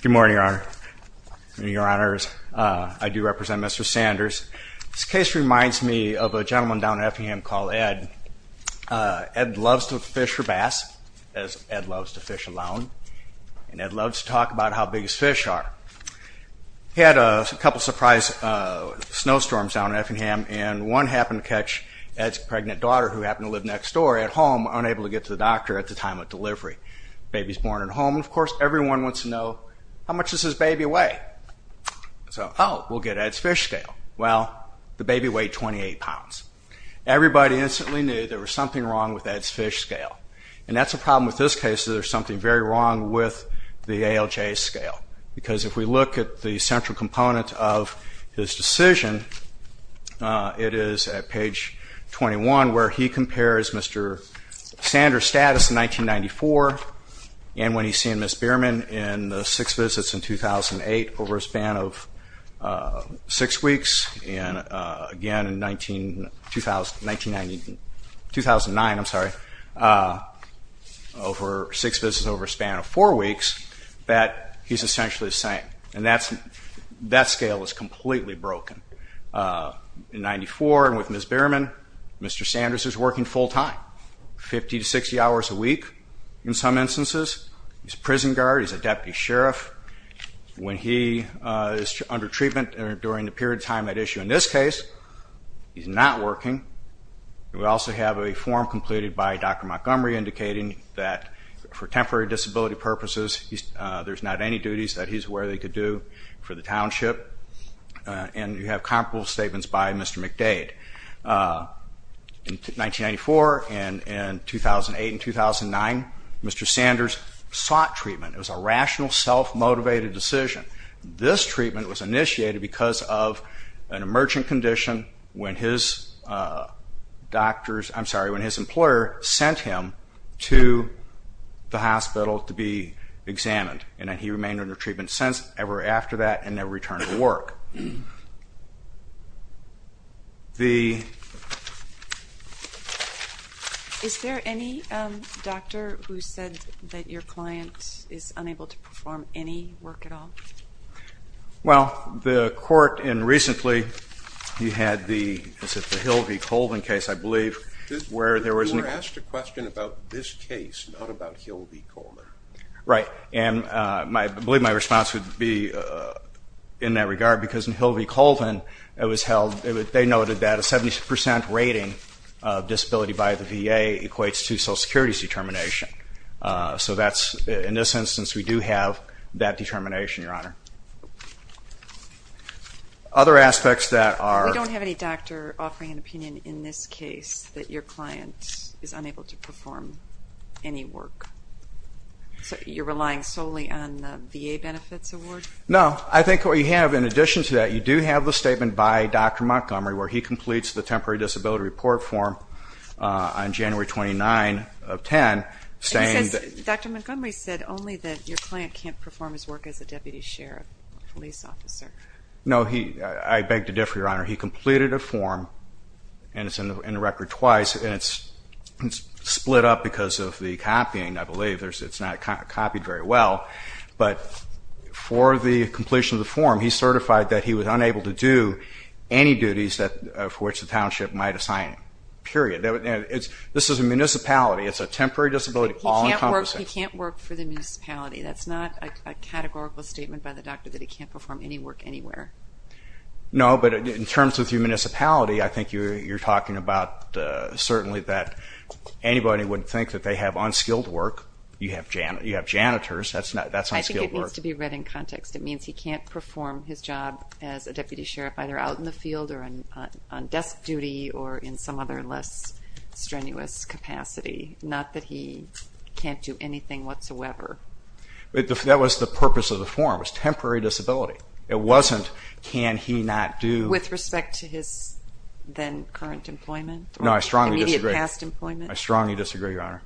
Good morning, Your Honor. I do represent Mr. Sanders. This case reminds me of a gentleman down in Effingham called Ed. Ed loves to fish for bass, as Ed loves to fish alone, and Ed had a couple of surprise snowstorms down in Effingham, and one happened to catch Ed's pregnant daughter, who happened to live next door at home, unable to get to the doctor at the time of delivery. The baby's born at home, and of course, everyone wants to know how much does his baby weigh? So, oh, we'll get Ed's fish scale. Well, the baby weighed 28 pounds. Everybody instantly knew there was something wrong with Ed's fish scale, and that's a problem with this case, that there's something very wrong with the ALJ scale, because if we look at the central component of his decision, it is at page 21, where he compares Mr. Sanders' status in 1994, and when he's seen Ms. Bierman in the six visits in 2008, over a span of six weeks, and again in 1999, I'm sorry, over six visits over a span of four weeks, that he's essentially the same, and that scale is completely broken. In 1994, and with Ms. Bierman, Mr. Sanders is working full-time, 50 to 60 hours a week, in some instances. He's a prison guard, he's a deputy sheriff. When he is under treatment, or during the period of time at issue in this case, he's not working. We also have a form completed by Dr. Montgomery indicating that for temporary disability purposes, there's not any duties that he's aware they could do for the township, and you have comparable statements by Mr. McDade. In 1994, and in 2008 and 2009, Mr. Sanders sought treatment. It was a rational, self-motivated decision. This treatment was when his doctors, I'm sorry, when his employer sent him to the hospital to be examined, and he remained under treatment ever after that, and never returned to work. The Is there any doctor who said that your client is unable to perform any work at all? Well, the court, and recently, you had the Hill v. Colvin case, I believe, where there was You were asked a question about this case, not about Hill v. Colvin. Right, and I believe my response would be in that regard, because in Hill v. Colvin, they noted that a 70% rating of disability by the VA equates to Social Security's determination. So that's, in this instance, we do have that determination, Your Honor. Other aspects that are We don't have any doctor offering an opinion in this case that your client is unable to perform any work. So you're relying solely on the VA benefits award? No, I think what you have in addition to that, you do have the statement by Dr. Montgomery where he completes the Temporary Disability Report form on January 29 of 2010, saying And he says, Dr. Montgomery said only that your client can't perform his work as a deputy sheriff or police officer. No, I beg to differ, Your Honor. He completed a form, and it's in the record twice, and it's split up because of the copying, I believe. It's not copied very well, but for the completion of the form, he certified that he was unable to do any duties for which the township might assign him, period. This is a municipality. It's a temporary disability all encompassing. He can't work for the municipality. That's not a categorical statement by the doctor that he can't perform any work anywhere. No, but in terms of the municipality, I think you're talking about certainly that anybody would think that they have unskilled work. You have janitors. That's unskilled work. I think it needs to be read in context. It means he can't perform his job as a deputy sheriff either out in the field or on desk duty or in some other less strenuous capacity. Not that he can't do anything whatsoever. That was the purpose of the form. It was temporary disability. It wasn't can he not do With respect to his then current employment? No, I strongly disagree. Immediate past employment? I strongly disagree, Your Honor.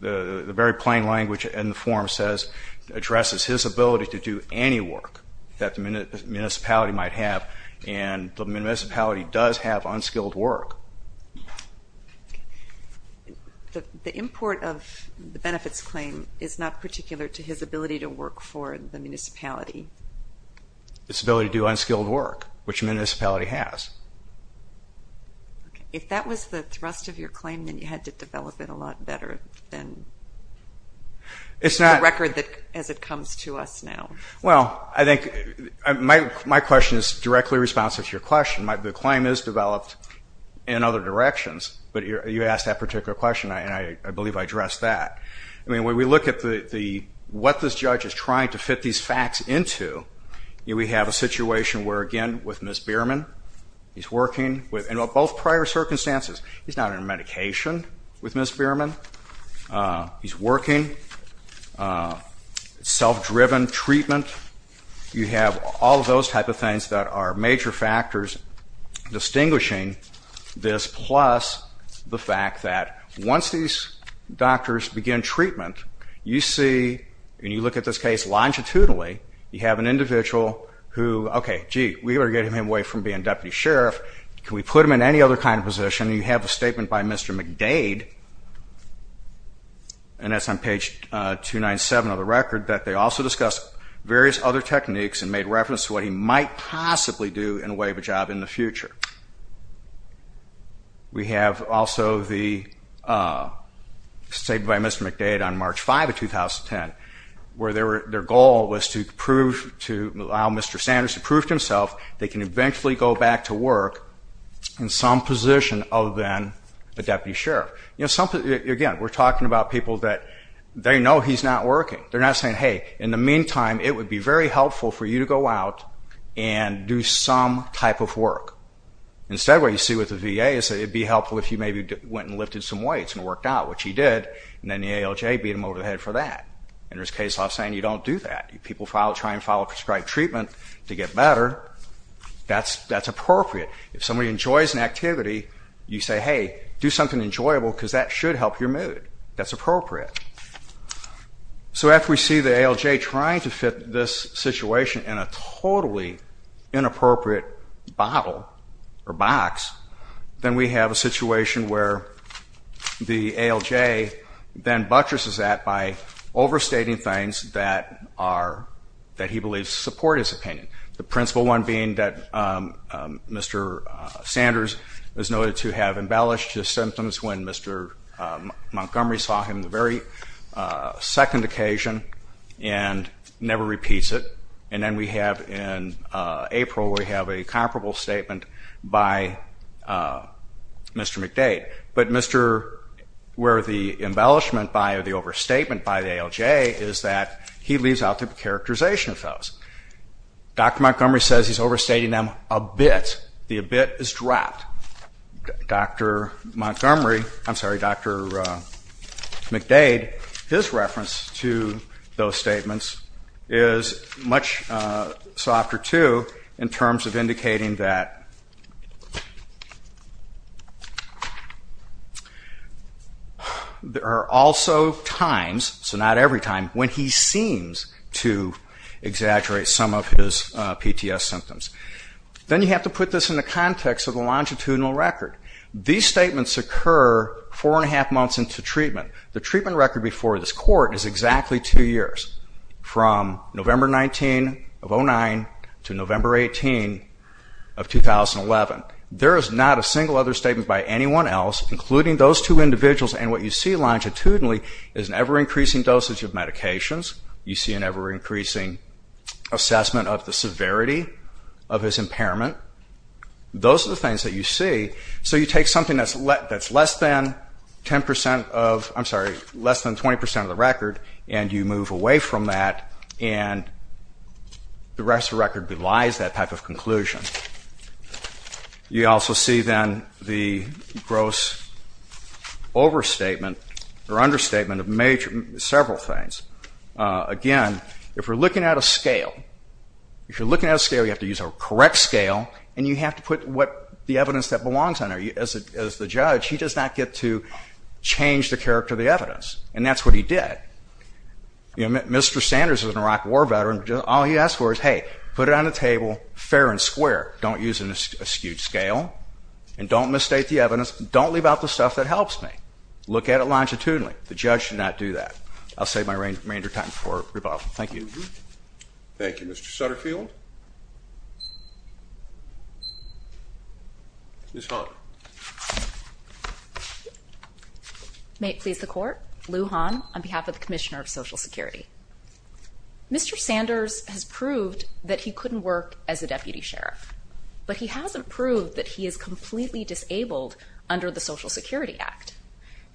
The very plain language in the form says, addresses his ability to do any work that the municipality might have and the municipality does have unskilled work. The import of the benefits claim is not particular to his ability to work for the municipality. His ability to do unskilled work, which municipality has. If that was the thrust of your claim, then you had to develop it a lot better than the record as it comes to us now. Well, I think my question is directly responsive to your question. The claim is developed in other directions, but you asked that particular question and I believe I addressed that. When we look at what this judge is trying to fit these facts into, we have a situation where, again, with Ms. Bierman, he's working with, in both prior circumstances, he's not on medication with Ms. Bierman. He's working, self-driven treatment. You have all of those type of things that are major factors distinguishing this, plus the fact that once these doctors begin treatment, you see, and you look at this case longitudinally, you have an individual who, okay, gee, we better get him away from being deputy sheriff. Can we put him in any other kind of position? You have a statement by Mr. McDade, and that's on page 297 of the record, that they also discussed various other techniques and made reference to what he might possibly do in the way of a job in the future. We have also the statement by Mr. McDade on March 5 of 2010, where their goal was to allow Mr. Sanders to prove to himself they can eventually go back to work in some position other than a deputy sheriff. Again, we're talking about people that they know he's not working. They're not saying, hey, in the meantime, it would be very helpful for you to go out and do some type of work. Instead, what you see with the VA is it would be helpful if you maybe went and lifted some weights and it worked out, which he did, and then the ALJ beat him over the head for that. And there's case law saying you don't do that. People try and follow prescribed treatment to get better. That's appropriate. If somebody enjoys an activity, you say, hey, do something enjoyable because that should help your mood. That's appropriate. So after we see the ALJ trying to fit this situation in a totally inappropriate bottle or box, then we have a situation where the ALJ then buttresses that by overstating things that he believes support his opinion, the principal one being that Mr. Sanders is noted to have embellished his symptoms when Mr. Montgomery saw him the very second occasion and never repeats it. And then we have in April, we have a comparable statement by Mr. McDade. But Mr. where the embellishment by the overstatement by the ALJ is that he leaves out the characterization of those. Dr. Montgomery says he's overstating them a bit. The a bit is dropped. Dr. Montgomery, I'm sorry, Dr. McDade, his reference to those statements is much softer too in terms of indicating that there are also times, so not every time, when he seems to exaggerate some of his PTS symptoms. Then you have to put this in the context of the longitudinal record. These statements occur four and a half months into treatment. The treatment record before this court is exactly two years, from November 19 of 09 to November 18 of 2011. There is not a single other statement by anyone else, including those two individuals, and what you see longitudinally is an ever increasing dosage of medications. You see an ever increasing assessment of the severity of his impairment. Those are the things that you see. So you take something that's less than 10 percent of, I'm sorry, less than 20 percent of the record, and you move away from that, and the rest of the record belies that type of conclusion. You also see then the gross overstatement or understatement of several things. Again, if we're looking at a scale, if you're looking at a scale, you have to use a correct scale, and you have to put the evidence that belongs on there. As the judge, he does not get to change the character of the evidence, and that's what he did. Mr. Sanders is an Iraq War veteran. All he asked for is, hey, put it on the table, fair and square. Don't use an askew scale, and don't misstate the evidence. Don't leave out the stuff that helps me. Look at it longitudinally. The judge did not do that. I'll save my remainder time for rebuttal. Thank you. Thank you. Mr. Sutterfield. Ms. Hahn. May it please the Court. Lou Hahn on behalf of the Commissioner of Social Security. Mr. Sanders has proved that he couldn't work as a deputy sheriff, but he hasn't proved that he is completely disabled under the Social Security Act.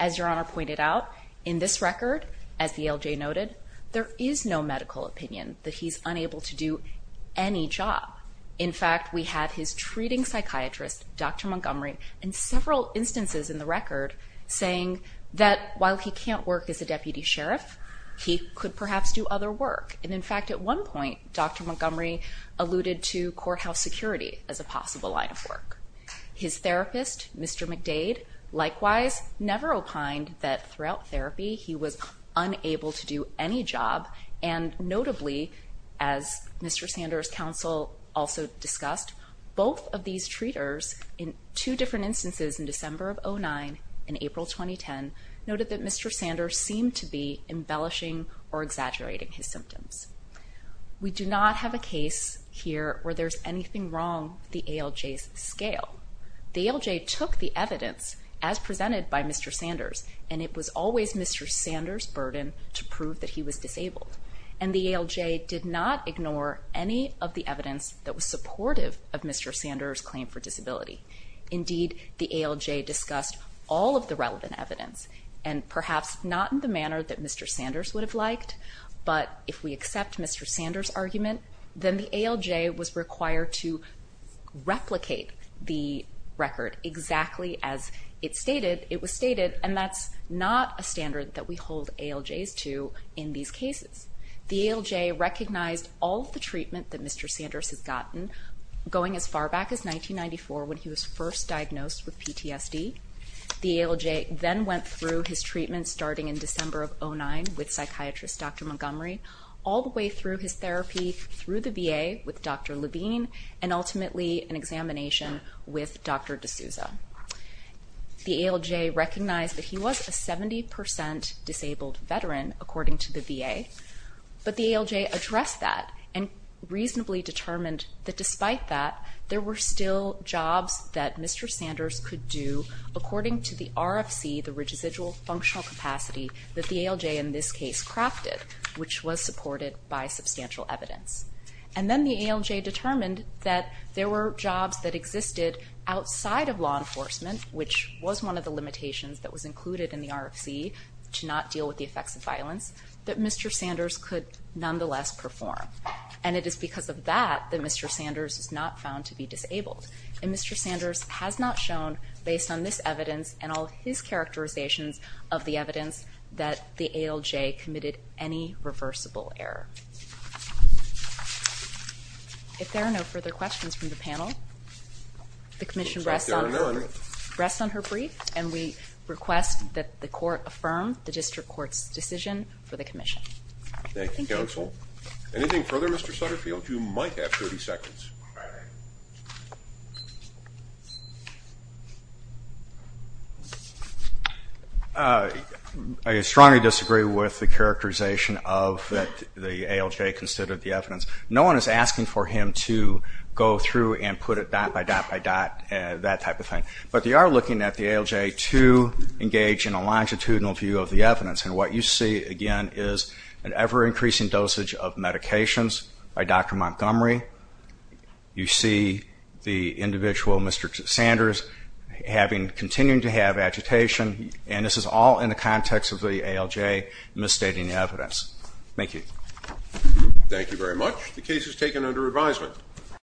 As Your Honor pointed out, in this record, as the LJ noted, there is no medical opinion that he's unable to do any job. In fact, we have his treating psychiatrist, Dr. Montgomery, in several instances in the record saying that while he can't work as a deputy sheriff, he could perhaps do other work. And in fact, at one point, Dr. Montgomery alluded to courthouse security as a possible line of work. His therapist, Mr. McDade, likewise never opined that throughout therapy he was unable to do any job. And notably, as Mr. Sanders' counsel also discussed, both of these treaters in two different instances in December of 2009 and April 2010 noted that Mr. Sanders seemed to be embellishing or exaggerating his symptoms. We do not have a case here where there's anything wrong with the ALJ's scale. The ALJ took the evidence as presented by Mr. Sanders, and it was always Mr. Sanders' burden to prove that he was disabled. And the ALJ did not ignore any of the evidence that was supportive of Mr. Sanders' claim for disability. Indeed, the ALJ discussed all of the relevant evidence, and perhaps not in the manner that Mr. Sanders would have liked, but if we accept Mr. Sanders' argument, then the ALJ was required to replicate the record exactly as it was stated, and that's not a standard that we hold ALJs to in these cases. The ALJ recognized all of the treatment that Mr. Sanders had gotten going as far back as 1994 when he was first diagnosed with PTSD. The ALJ then went through his treatment starting in December of 2009 with psychiatrist Dr. Montgomery, all the way through his therapy through the VA with Dr. Levine, and ultimately an examination with Dr. D'Souza. The ALJ recognized that he was a 70% disabled veteran, according to the VA, but the ALJ addressed that and reasonably determined that despite that, there were still jobs that Mr. Sanders could do according to the RFC, the Residual Functional Capacity that the ALJ in this case crafted, which was supported by substantial evidence. And then the ALJ determined that there were jobs that existed outside of law enforcement, which was one of the limitations that was included in the RFC to not deal with the effects of violence, that Mr. Sanders could nonetheless perform. And it is because of that that Mr. Sanders was not found to be disabled. And Mr. Sanders has not shown, based on this evidence and all of his characterizations of the evidence, that the ALJ committed any reversible error. And the Commission rests on her brief, and we request that the Court affirm the District Court's decision for the Commission. Thank you, Counsel. Anything further, Mr. Sutterfield? You might have 30 seconds. I strongly disagree with the characterization of that the ALJ considered the evidence. No one is asking for him to go through and put it dot by dot by dot, that type of thing. But they are looking at the ALJ to engage in a longitudinal view of the evidence. And what you see, again, is an ever-increasing dosage of medications by Dr. Montgomery. You see the individual, Mr. Sanders, continuing to have agitation. And this is all in the context of the ALJ misstating the evidence. Thank you. Thank you very much. The case is taken under advisement.